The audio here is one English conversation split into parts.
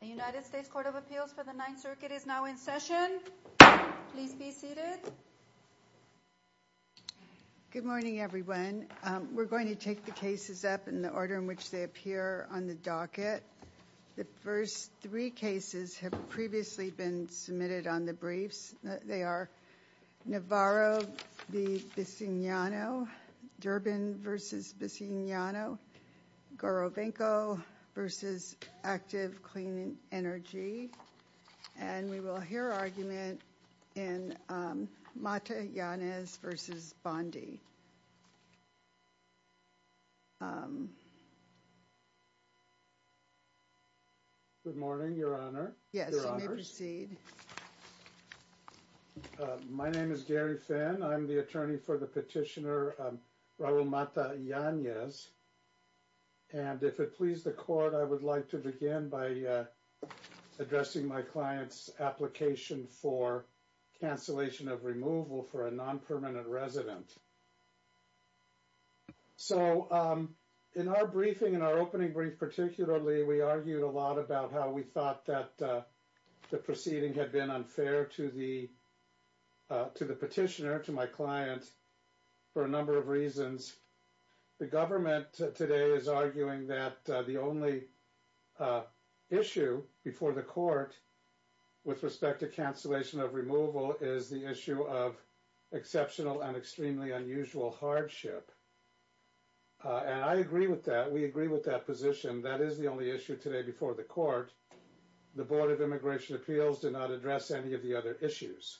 The United States Court of Appeals for the Ninth Circuit is now in session. Please be seated. Good morning, everyone. We're going to take the cases up in the order in which they appear on the docket. The first three cases have previously been submitted on the briefs. They are Navarro v. Bisignano, Durbin v. Bisignano, Gorovenko v. Active Clean Energy, and we will hear argument in Mata-Yanez v. Bondi. Good morning, Your Honor. Yes, you may proceed. My name is Gary Finn. I'm the attorney for the petitioner Raul Mata-Yanez, and if it pleases the court, I would like to begin by addressing my client's application for cancellation of removal for a non-permanent resident. So in our briefing, in our opening brief particularly, we argued a lot about how we thought that the proceeding had been unfair to the petitioner, to my client, for a number of reasons. The government today is arguing that the only issue before the court with respect to cancellation of removal is the issue of exceptional and extremely unusual hardship, and I agree with that. We agree with that position. That is the only issue today before the court. The Board of Immigration Appeals did not address any of the other issues.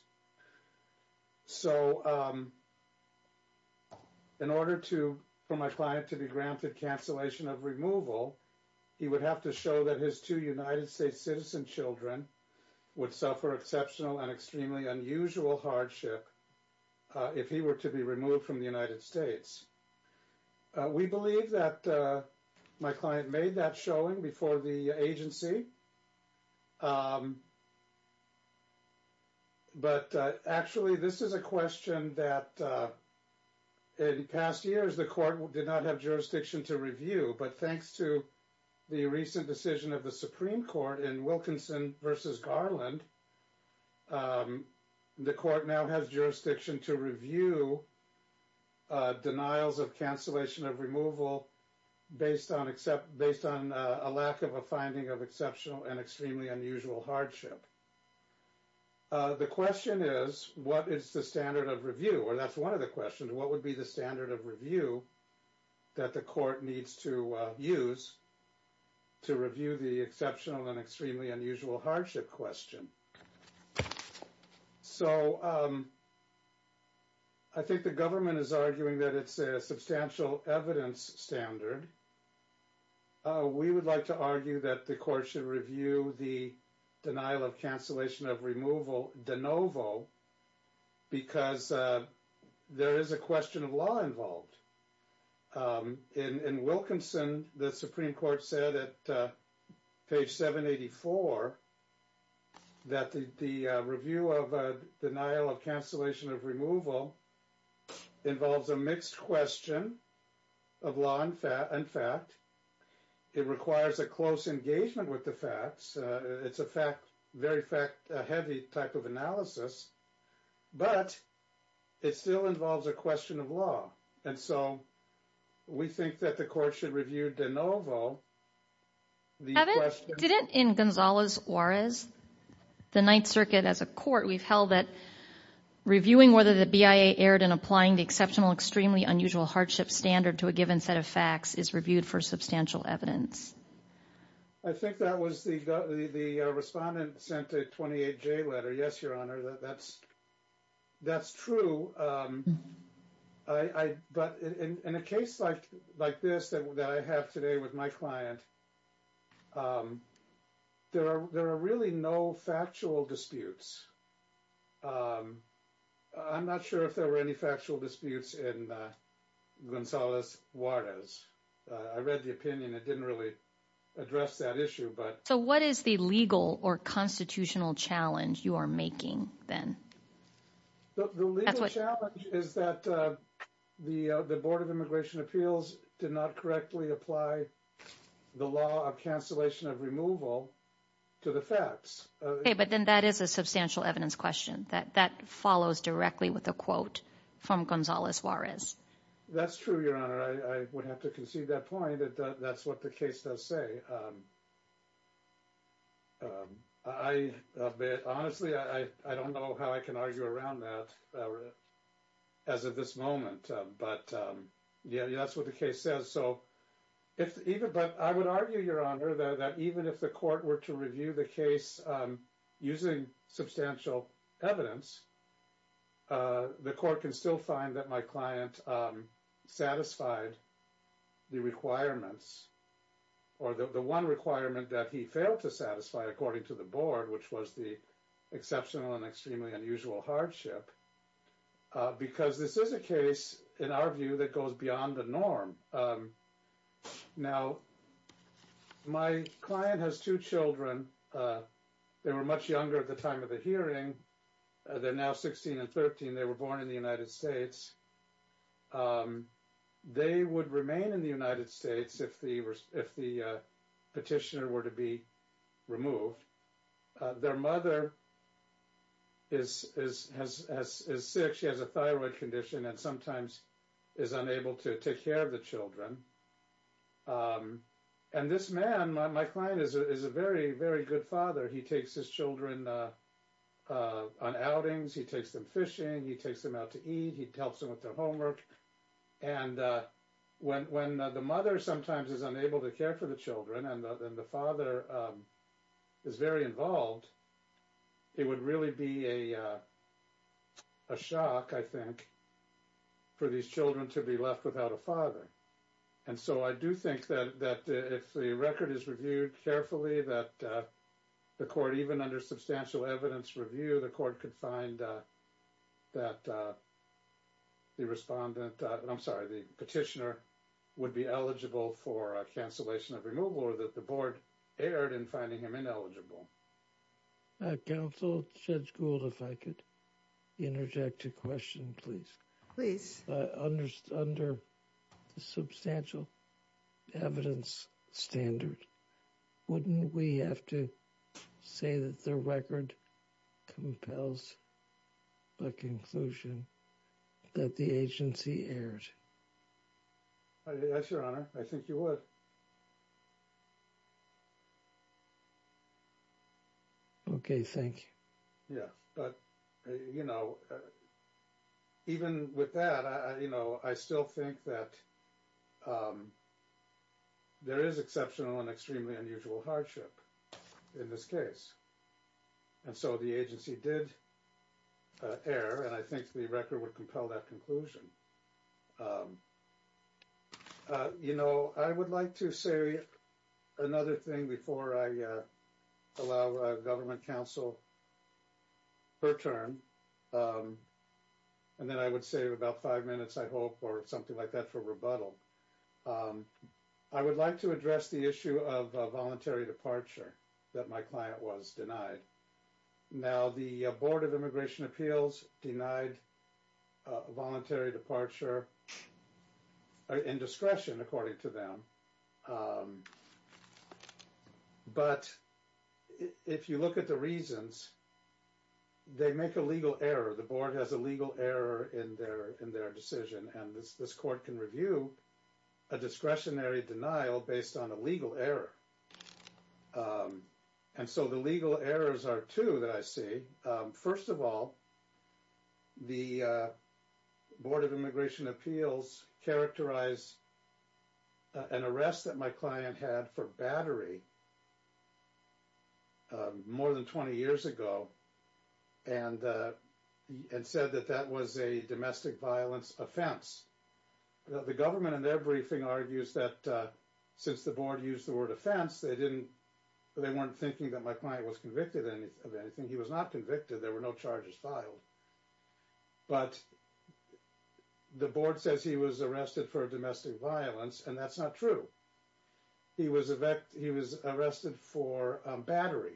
So in order for my client to be granted cancellation of removal, he would have to show that his two United States citizen children would suffer exceptional and extremely unusual hardship if he were to be removed from the United States. We believe that my client made that showing before the agency, but actually this is a question that in past years the court did not have jurisdiction to review, but thanks to the recent decision of the Supreme Court in Wilkinson v. Garland, the court now has jurisdiction to review denials of cancellation of removal based on a lack of a finding of exceptional and extremely unusual hardship. The question is what is the standard of review, or that's one of the questions, what would be the standard of review that the court needs to use to review the exceptional and extremely unusual hardship question. So I think the government is arguing that it's a substantial evidence standard. We would like to argue that the court should review the denial of cancellation of removal de novo because there is a question of law involved. In Wilkinson, the Supreme Court said at page 784 that the review of denial of cancellation of removal involves a mixed question of law and fact. It requires a close engagement with the facts. It's a very fact-heavy type of analysis, but it still involves a question of law. And so we think that the court should review de novo. Kevin, didn't in Gonzales-Juarez, the Ninth Circuit as a court, we've held that reviewing whether the BIA erred in applying the exceptional, extremely unusual hardship standard to a given set of facts is reviewed for substantial evidence. I think that was the respondent sent a 28-J letter. Yes, Your Honor, that's true. But in a case like this that I have today with my client, there are really no factual disputes. I'm not sure if there were any factual disputes in Gonzales-Juarez. I read the opinion. It didn't really address that issue. So what is the legal or constitutional challenge you are making then? The legal challenge is that the Board of Immigration Appeals did not correctly apply the law of cancellation of removal to the facts. Okay, but then that is a substantial evidence question. That follows directly with a quote from Gonzales-Juarez. That's true, Your Honor. I would have to concede that point. That's what the case does say. Honestly, I don't know how I can argue around that as of this moment. But yeah, that's what the case says. But I would argue, Your Honor, that even if the court were to review the case using substantial evidence, the court can still find that my client satisfied the requirements, or the one requirement that he failed to satisfy, according to the board, which was the exceptional and extremely unusual hardship. Because this is a case, in our view, that goes beyond the norm. Now, my client has two children. They were much younger at the time of the hearing. They're now 16 and 13. They were born in the United States. They would remain in the United States if the petitioner were to be removed. Their mother is sick. She has a thyroid condition and sometimes is unable to take care of the children. And this man, my client, is a very, very good father. He takes his children on outings. He takes them fishing. He takes them out to eat. He helps them with their homework. And when the mother sometimes is unable to care for the children and the father is very involved, it would really be a shock, I think, for these children to be left without a father. And so I do think that if the record is reviewed carefully, that the court, even under substantial evidence review, the court could find that the petitioner would be eligible for cancellation of removal or that the board erred in finding him ineligible. Council, Judge Gould, if I could interject a question, please. Please. Under the substantial evidence standard, wouldn't we have to say that the record compels a conclusion that the agency erred? Yes, Your Honor, I think you would. Okay, thank you. Yeah, but, you know, even with that, you know, I still think that there is exceptional and extremely unusual hardship in this case. And so the agency did err, and I think the record would compel that conclusion. You know, I would like to say another thing before I allow government counsel her turn. And then I would say about five minutes, I hope, or something like that for rebuttal. I would like to address the issue of voluntary departure that my client was denied. Now, the Board of Immigration Appeals denied voluntary departure in discretion, according to them. But if you look at the reasons, they make a legal error. The board has a legal error in their decision, and this court can review a discretionary denial based on a legal error. And so the legal errors are two that I see. First of all, the Board of Immigration Appeals characterized an arrest that my client had for battery more than 20 years ago and said that that was a domestic violence offense. The government in their briefing argues that since the board used the word offense, they weren't thinking that my client was convicted of anything. He was not convicted. There were no charges filed. But the board says he was arrested for domestic violence, and that's not true. He was arrested for battery.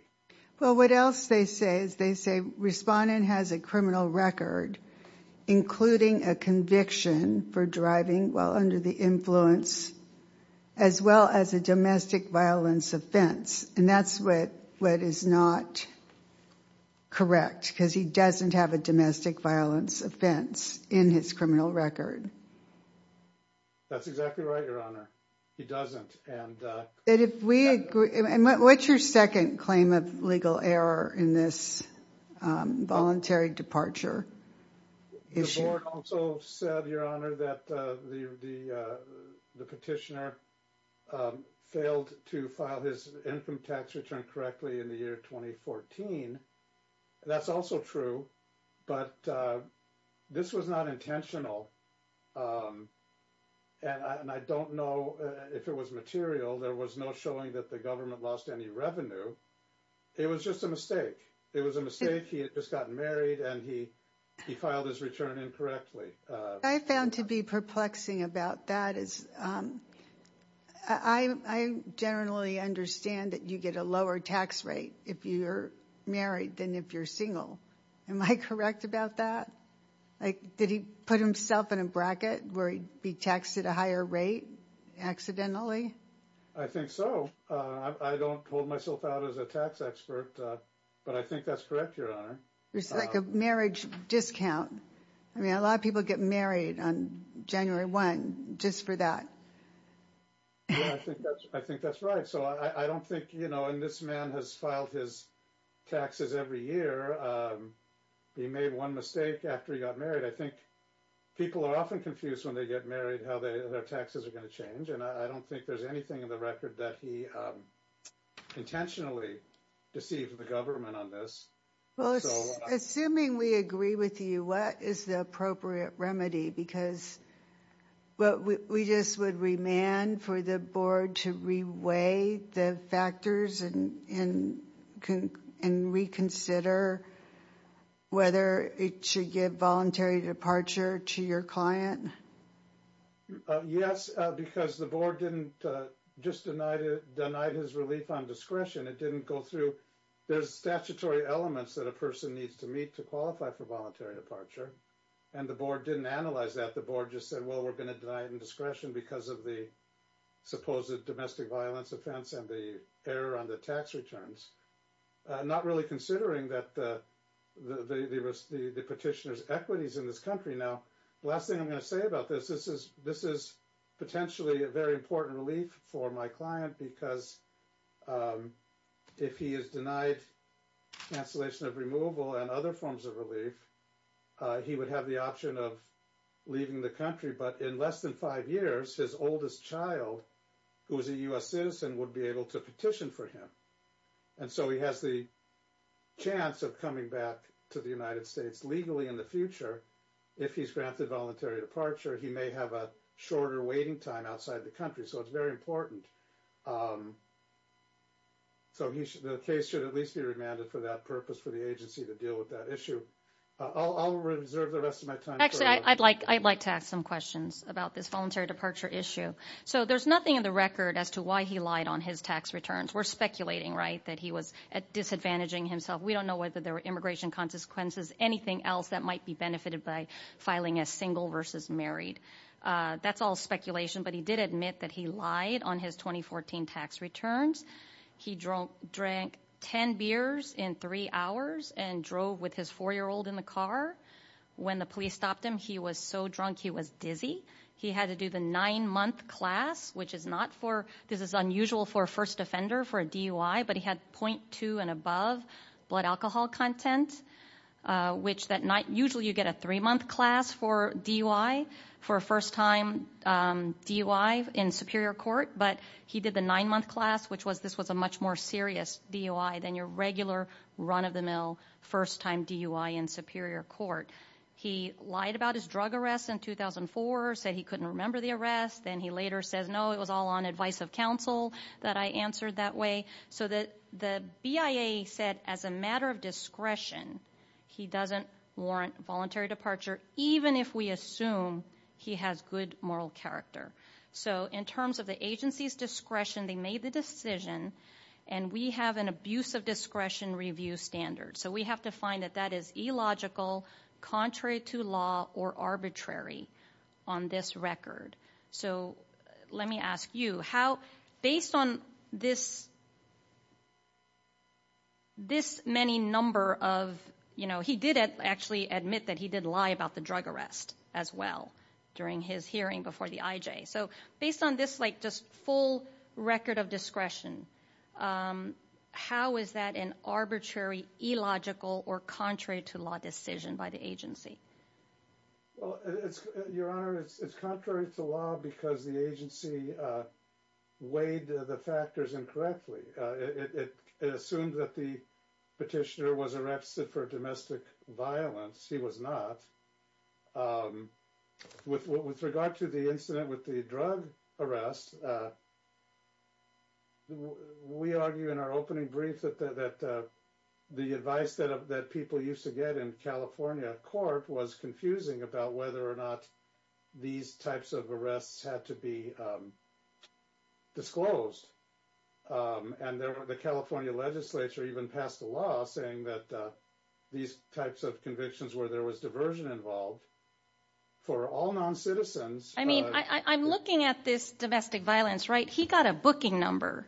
Well, what else they say is they say respondent has a criminal record, including a conviction for driving while under the influence, as well as a domestic violence offense. And that's what is not correct, because he doesn't have a domestic violence offense in his criminal record. That's exactly right, Your Honor. He doesn't. And what's your second claim of legal error in this voluntary departure issue? The board also said, Your Honor, that the petitioner failed to file his income tax return correctly in the year 2014. That's also true, but this was not intentional. And I don't know if it was material. There was no showing that the government lost any revenue. It was just a mistake. It was a mistake. He had just gotten married, and he filed his return incorrectly. What I found to be perplexing about that is I generally understand that you get a lower tax rate if you're married than if you're single. Am I correct about that? Like, did he put himself in a bracket where he'd be taxed at a higher rate accidentally? I think so. I don't hold myself out as a tax expert, but I think that's correct, Your Honor. It's like a marriage discount. I mean, a lot of people get married on January 1 just for that. Yeah, I think that's right. So I don't think, you know, and this man has filed his taxes every year. He made one mistake after he got married. I think people are often confused when they get married how their taxes are going to change, and I don't think there's anything in the record that he intentionally deceived the government on this. Well, assuming we agree with you, what is the appropriate remedy? Because we just would remand for the board to reweigh the factors and reconsider whether it should give voluntary departure to your client. Yes, because the board didn't just deny his relief on discretion. It didn't go through. There's statutory elements that a person needs to meet to qualify for voluntary departure, and the board didn't analyze that. The board just said, well, we're going to deny it in discretion because of the supposed domestic violence offense and the error on the tax returns. Not really considering that the petitioner's equities in this country. Now, the last thing I'm going to say about this, this is potentially a very important relief for my client because if he is denied cancellation of removal and other forms of relief, he would have the option of leaving the country. But in less than five years, his oldest child, who is a U.S. citizen, would be able to petition for him. And so he has the chance of coming back to the United States legally in the future. If he's granted voluntary departure, he may have a shorter waiting time outside the country. So it's very important. So the case should at least be remanded for that purpose, for the agency to deal with that issue. I'll reserve the rest of my time. Actually, I'd like to ask some questions about this voluntary departure issue. So there's nothing in the record as to why he lied on his tax returns. We're speculating, right, that he was disadvantaging himself. We don't know whether there were immigration consequences, anything else that might be benefited by filing as single versus married. That's all speculation. But he did admit that he lied on his 2014 tax returns. He drank ten beers in three hours and drove with his four-year-old in the car. When the police stopped him, he was so drunk he was dizzy. He had to do the nine-month class, which is not for ‑‑ this is unusual for a first offender, for a DUI, but he had 0.2 and above blood alcohol content, which usually you get a three-month class for DUI, for a first-time DUI in superior court, but he did the nine-month class, which was this was a much more serious DUI than your regular run-of-the-mill first-time DUI in superior court. He lied about his drug arrest in 2004, said he couldn't remember the arrest. Then he later says, no, it was all on advice of counsel that I answered that way. So the BIA said as a matter of discretion, he doesn't warrant voluntary departure, even if we assume he has good moral character. So in terms of the agency's discretion, they made the decision, and we have an abuse of discretion review standard. So we have to find that that is illogical, contrary to law, or arbitrary on this record. So let me ask you, how, based on this many number of, you know, he did actually admit that he did lie about the drug arrest as well during his hearing before the IJ. So based on this, like, just full record of discretion, how is that an arbitrary, illogical, or contrary to law decision by the agency? Well, Your Honor, it's contrary to law because the agency weighed the factors incorrectly. It assumed that the petitioner was arrested for domestic violence. He was not. With regard to the incident with the drug arrest, we argue in our opening brief that the advice that people used to get in California court was confusing about whether or not these types of arrests had to be disclosed. And the California legislature even passed a law saying that these types of convictions where there was diversion involved for all noncitizens. I mean, I'm looking at this domestic violence, right? He got a booking number.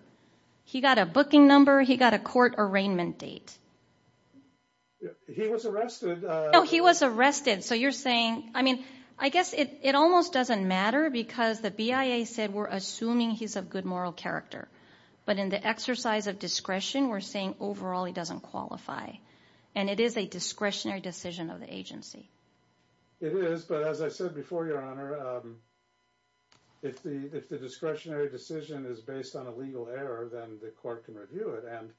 He got a booking number. He got a court arraignment date. He was arrested. No, he was arrested. So you're saying, I mean, I guess it almost doesn't matter because the BIA said we're assuming he's of good moral character. But in the exercise of discretion, we're saying overall he doesn't qualify. And it is a discretionary decision of the agency. It is. But as I said before, Your Honor, if the discretionary decision is based on a legal error, then the court can review it. And,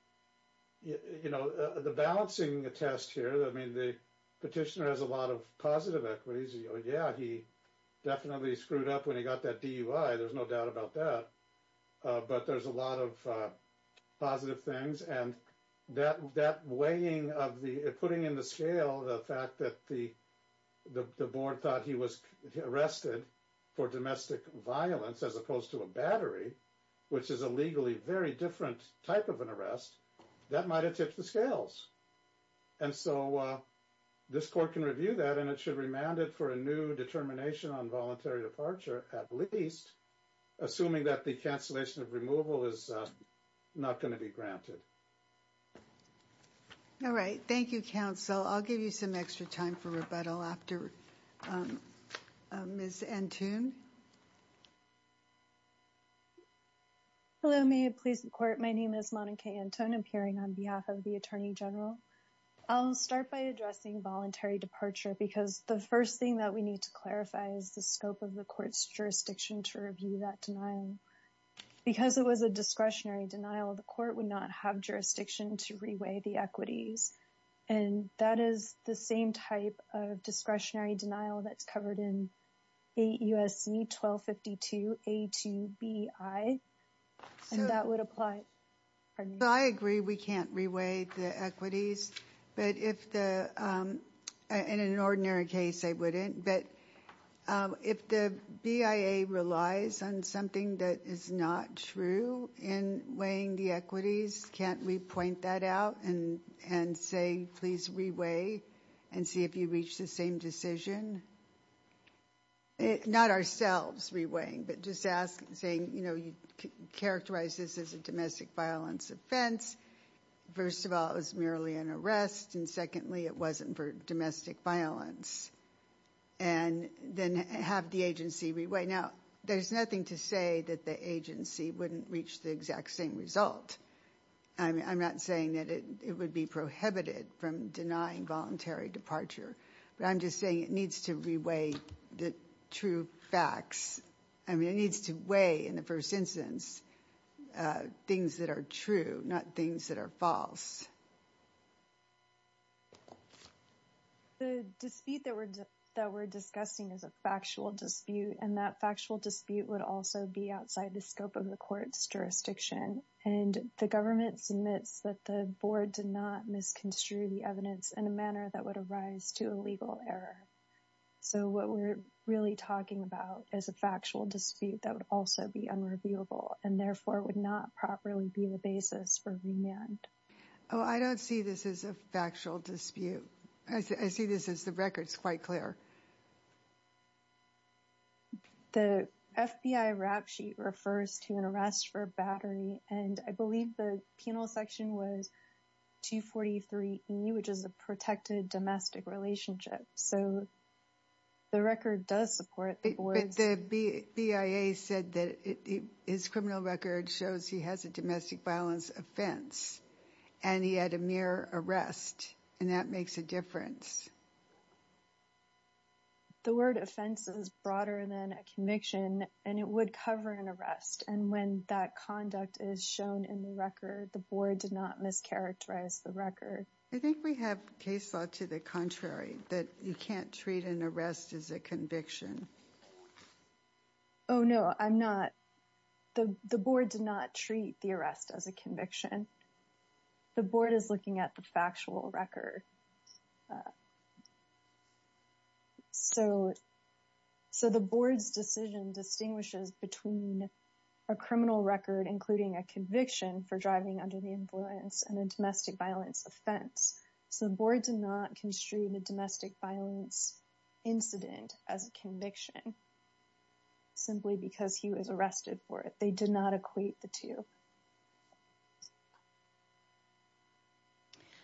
you know, the balancing the test here, I mean, the petitioner has a lot of positive equities. Yeah, he definitely screwed up when he got that DUI. There's no doubt about that. But there's a lot of positive things. And that weighing of the putting in the scale, the fact that the board thought he was arrested for domestic violence, as opposed to a battery, which is a legally very different type of an arrest, that might have tipped the scales. And so this court can review that. And it should remand it for a new determination on voluntary departure, assuming that the cancellation of removal is not going to be granted. All right. Thank you, counsel. I'll give you some extra time for rebuttal after Ms. Antune. Hello. May it please the court. My name is Monica Antone appearing on behalf of the attorney general. I'll start by addressing voluntary departure, because the first thing that we need to clarify is the scope of the court's jurisdiction to review that denial. Because it was a discretionary denial, the court would not have jurisdiction to reweigh the equities. And that is the same type of discretionary denial that's covered in 8 U.S.C. 1252 A to B.I. And that would apply. I agree we can't reweigh the equities. But in an ordinary case, I wouldn't. But if the BIA relies on something that is not true in weighing the equities, can't we point that out and say, please reweigh and see if you reach the same decision? Not ourselves reweighing, but just saying, you know, characterize this as a domestic violence offense. First of all, it was merely an arrest. And secondly, it wasn't for domestic violence. And then have the agency reweigh. Now, there's nothing to say that the agency wouldn't reach the exact same result. I'm not saying that it would be prohibited from denying voluntary departure. But I'm just saying it needs to reweigh the true facts. I mean, it needs to weigh, in the first instance, things that are true, not things that are false. The dispute that we're discussing is a factual dispute. And that factual dispute would also be outside the scope of the court's jurisdiction. And the government submits that the board did not misconstrue the evidence in a manner that would arise to a legal error. So what we're really talking about is a factual dispute that would also be unreviewable and therefore would not properly be the basis for remand. Oh, I don't see this as a factual dispute. I see this as the record's quite clear. The FBI rap sheet refers to an arrest for battery. And I believe the penal section was 243E, which is a protected domestic relationship. So the record does support the board's... But the BIA said that his criminal record shows he has a domestic violence offense. And he had a mere arrest. And that makes a difference. The word offense is broader than a conviction, and it would cover an arrest. And when that conduct is shown in the record, the board did not mischaracterize the record. I think we have case law to the contrary, that you can't treat an arrest as a conviction. Oh, no, I'm not. The board did not treat the arrest as a conviction. The board is looking at the factual record. So the board's decision distinguishes between a criminal record, including a conviction, for driving under the influence and a domestic violence offense. So the board did not construe the domestic violence incident as a conviction, simply because he was arrested for it. They did not equate the two.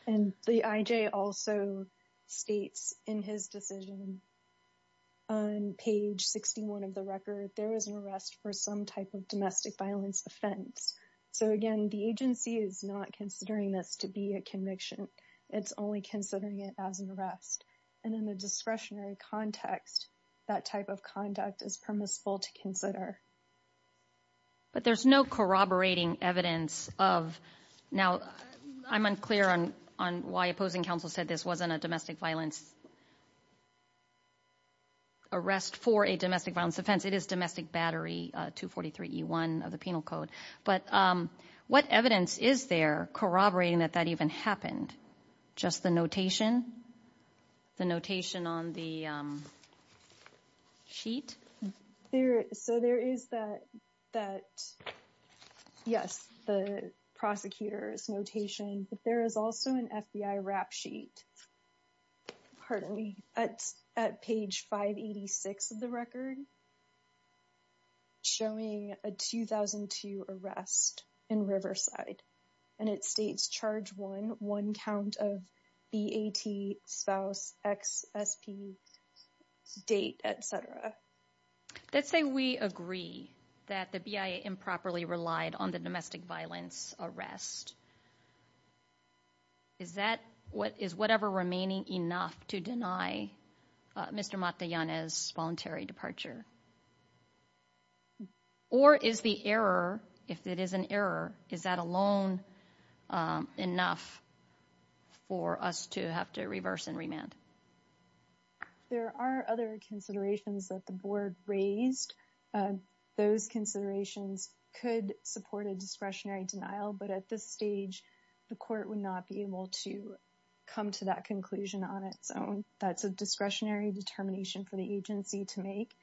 And the IJ also states in his decision, on page 61 of the record, there was an arrest for some type of domestic violence offense. So, again, the agency is not considering this to be a conviction. It's only considering it as an arrest. And in a discretionary context, that type of conduct is permissible to consider. But there's no corroborating evidence of, now, I'm unclear on why opposing counsel said this wasn't a domestic violence arrest for a domestic violence offense. It is domestic battery 243E1 of the penal code. But what evidence is there corroborating that that even happened? Just the notation? The notation on the sheet? So there is that, yes, the prosecutor's notation. But there is also an FBI rap sheet, pardon me, at page 586 of the record, showing a 2002 arrest in Riverside. And it states, charge one, one count of BAT, spouse, XSP, date, et cetera. Let's say we agree that the BIA improperly relied on the domestic violence arrest. Is that, is whatever remaining enough to deny Mr. Mattayana's voluntary departure? Or is the error, if it is an error, is that alone enough for us to have to reverse and remand? There are other considerations that the board raised. Those considerations could support a discretionary denial. But at this stage, the court would not be able to come to that conclusion on its own. That's a discretionary determination for the agency to make.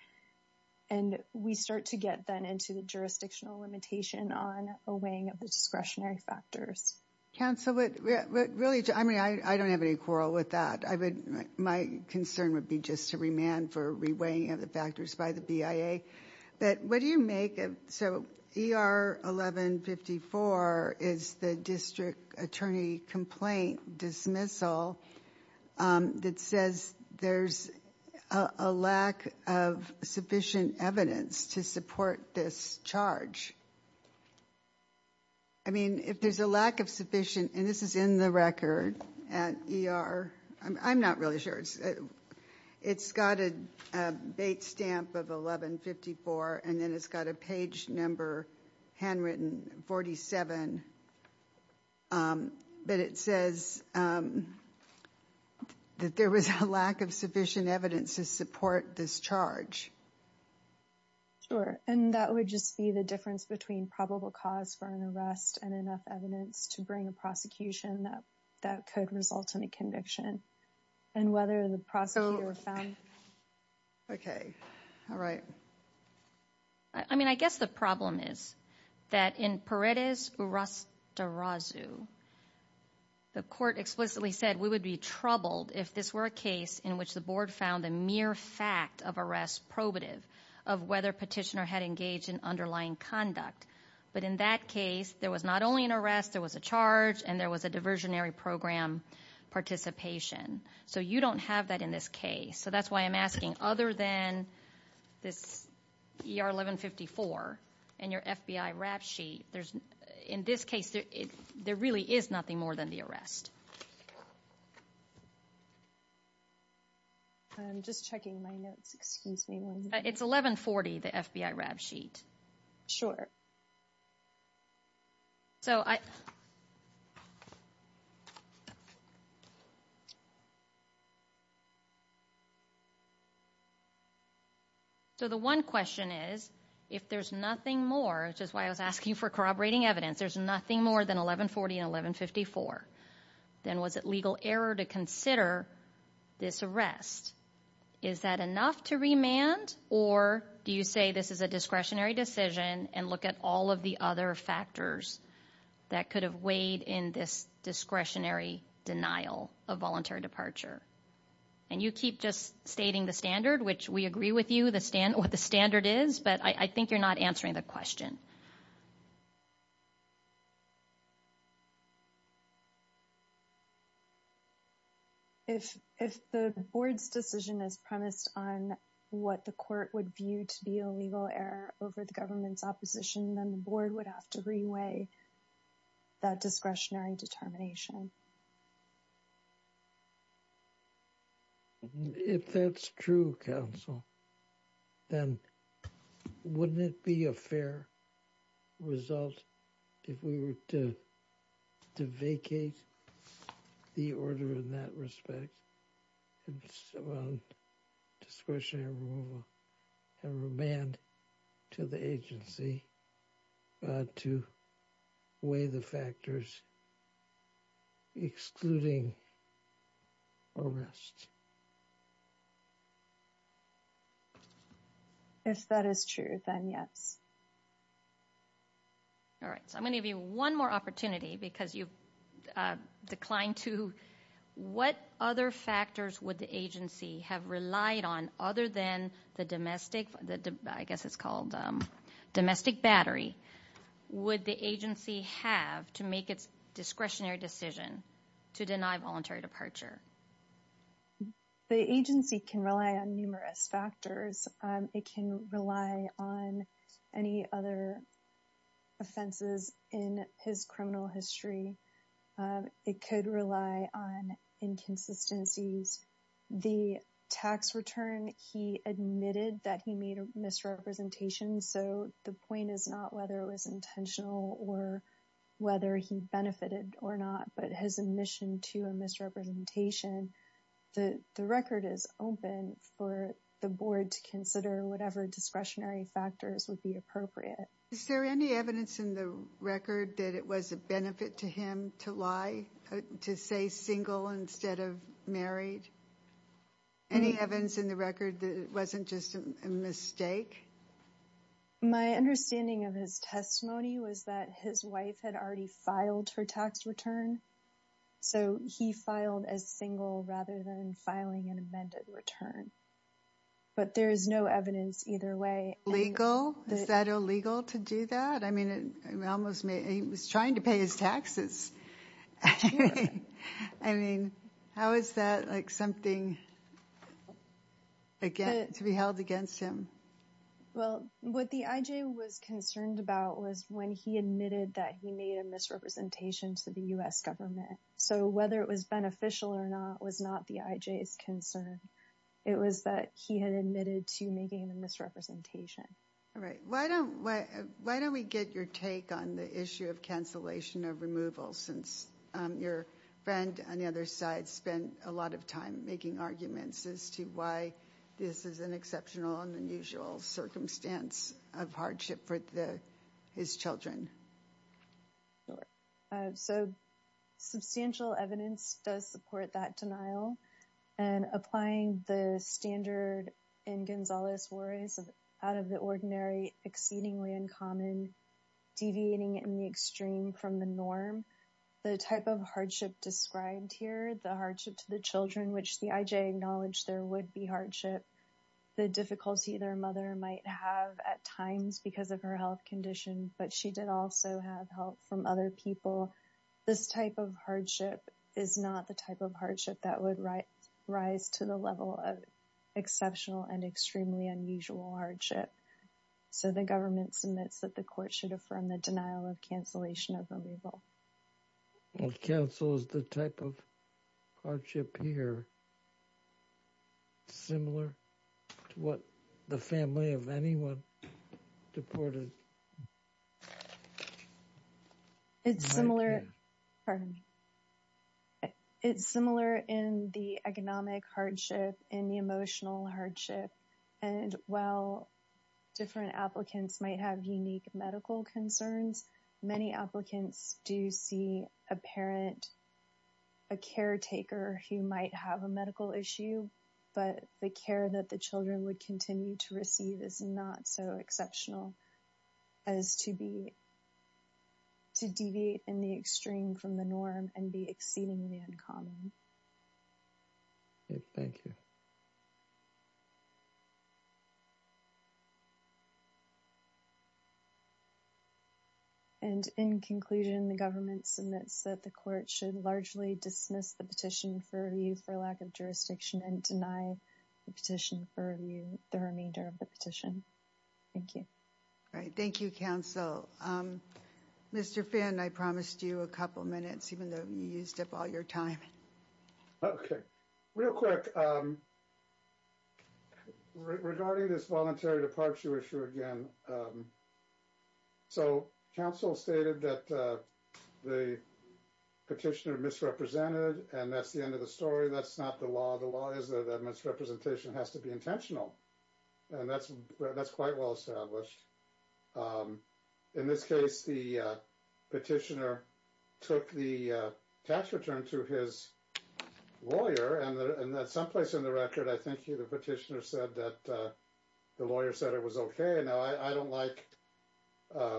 And we start to get then into the jurisdictional limitation on a weighing of the discretionary factors. Counsel, what really, I mean, I don't have any quarrel with that. I would, my concern would be just to remand for reweighing of the factors by the BIA. But what do you make of, so ER 1154 is the district attorney complaint dismissal that says there's a lack of sufficient evidence to support this charge. I mean, if there's a lack of sufficient, and this is in the record at ER, I'm not really sure. It's got a bait stamp of 1154, and then it's got a page number handwritten 47. But it says that there was a lack of sufficient evidence to support this charge. Sure, and that would just be the difference between probable cause for an arrest and enough evidence to bring a prosecution that could result in a conviction. And whether the prosecutor found... Okay, all right. I mean, I guess the problem is that in Paredes-Urastirazu, the court explicitly said we would be troubled if this were a case in which the board found a mere fact of arrest probative of whether petitioner had engaged in underlying conduct. But in that case, there was not only an arrest, there was a charge, and there was a diversionary program participation. So you don't have that in this case. So that's why I'm asking, other than this ER 1154 and your FBI RAB sheet, in this case, there really is nothing more than the arrest. I'm just checking my notes. Excuse me. It's 1140, the FBI RAB sheet. Sure. So I... So the one question is, if there's nothing more, which is why I was asking for corroborating evidence, there's nothing more than 1140 and 1154, then was it legal error to consider this arrest? Is that enough to remand, or do you say this is a discretionary decision and look at all of the other factors that could have weighed in this discretionary denial of voluntary departure? And you keep just stating the standard, which we agree with you, what the standard is, but I think you're not answering the question. If the board's decision is premised on what the court would view to be a legal error over the government's opposition, then the board would have to reweigh that discretionary determination. Counsel? If that's true, counsel, then wouldn't it be a fair result if we were to vacate the order in that respect, discretionary removal, and remand to the agency to weigh the factors excluding arrest? If that is true, then yes. All right, so I'm going to give you one more opportunity because you've declined to. What other factors would the agency have relied on other than the domestic, I guess it's called domestic battery, would the agency have to make its discretionary decision to deny voluntary departure? The agency can rely on numerous factors. It can rely on any other offenses in his criminal history. It could rely on inconsistencies. The tax return, he admitted that he made a misrepresentation, so the point is not whether it was intentional or whether he benefited or not, but his admission to a misrepresentation. The record is open for the board to consider whatever discretionary factors would be appropriate. Is there any evidence in the record that it was a benefit to him to lie, to say single instead of married? Any evidence in the record that it wasn't just a mistake? My understanding of his testimony was that his wife had already filed her tax return, so he filed as single rather than filing an amended return. But there is no evidence either way. Legal? Is that illegal to do that? I mean, he was trying to pay his taxes. I mean, how is that like something to be held against him? Well, what the IJ was concerned about was when he admitted that he made a misrepresentation to the U.S. government. So whether it was beneficial or not was not the IJ's concern. It was that he had admitted to making a misrepresentation. All right. Why don't we get your take on the issue of cancellation of removal, since your friend on the other side spent a lot of time making arguments as to why this is an exceptional and unusual circumstance of hardship for his children? So substantial evidence does support that denial. And applying the standard in Gonzalez-Juarez, out of the ordinary, exceedingly uncommon, deviating in the extreme from the norm, the type of hardship described here, the hardship to the children, which the IJ acknowledged there would be hardship, the difficulty their mother might have at times because of her health condition, but she did also have help from other people. This type of hardship is not the type of hardship that would rise to the level of exceptional and extremely unusual hardship. So the government submits that the court should affirm the denial of cancellation of removal. Well, cancel is the type of hardship here, similar to what the family of anyone deported might be. It's similar, pardon me. It's similar in the economic hardship, in the emotional hardship. And while different applicants might have unique medical concerns, many applicants do see a parent, a caretaker who might have a medical issue, but the care that the children would continue to receive is not so exceptional as to deviate in the extreme from the norm and be exceedingly uncommon. Thank you. And in conclusion, the government submits that the court should largely dismiss the petition for review for lack of jurisdiction and deny the petition for review the remainder of the petition. Thank you. All right. Thank you, counsel. Mr. Finn, I promised you a couple minutes, even though you used up all your time. Real quick. Regarding this voluntary departure issue again, so counsel stated that the petitioner misrepresented, and that's the end of the story. That's not the law. The law is that misrepresentation has to be intentional, and that's quite well established. In this case, the petitioner took the tax return to his lawyer, and someplace in the record I think the petitioner said that the lawyer said it was okay. Now, I don't like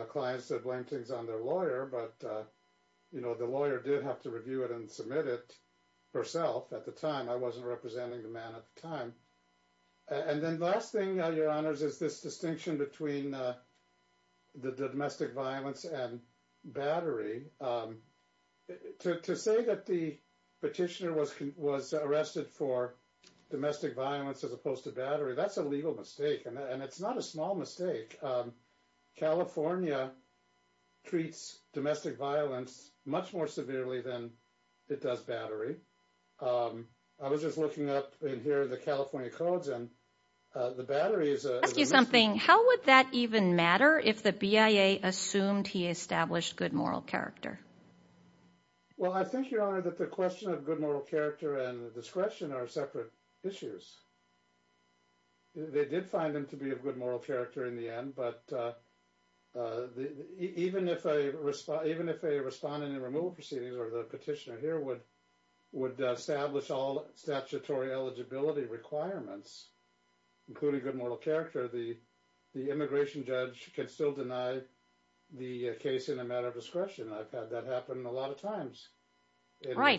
clients that blame things on their lawyer, but the lawyer did have to review it and submit it herself at the time. I wasn't representing the man at the time. And then last thing, Your Honors, is this distinction between the domestic violence and battery. To say that the petitioner was arrested for domestic violence as opposed to battery, that's a legal mistake, and it's not a small mistake. California treats domestic violence much more severely than it does battery. I was just looking up in here the California codes, and the battery is a reason. Let me ask you something. How would that even matter if the BIA assumed he established good moral character? Well, I think, Your Honor, that the question of good moral character and discretion are separate issues. They did find him to be of good moral character in the end, but even if a respondent in removal proceedings or the petitioner here would establish all statutory eligibility requirements, including good moral character, the immigration judge can still deny the case in a matter of discretion. I've had that happen a lot of times.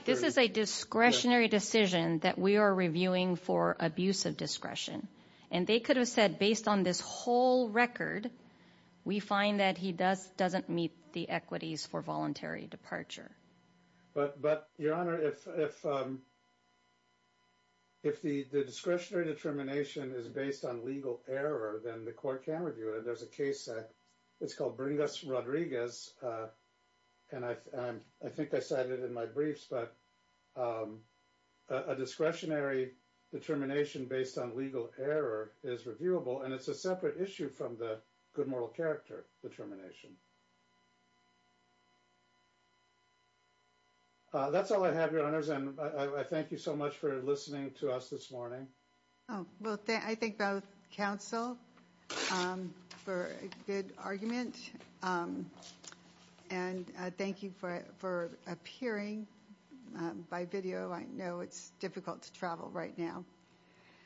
This is a discretionary decision that we are reviewing for abuse of discretion. And they could have said, based on this whole record, we find that he doesn't meet the equities for voluntary departure. But, Your Honor, if the discretionary determination is based on legal error, then the court can review it. There's a case that's called Bringus-Rodriguez, and I think I said it in my briefs, but a discretionary determination based on legal error is reviewable, and it's a separate issue from the good moral character determination. That's all I have, Your Honors, and I thank you so much for listening to us this morning. Well, I thank both counsel for a good argument, and thank you for appearing by video. I know it's difficult to travel right now.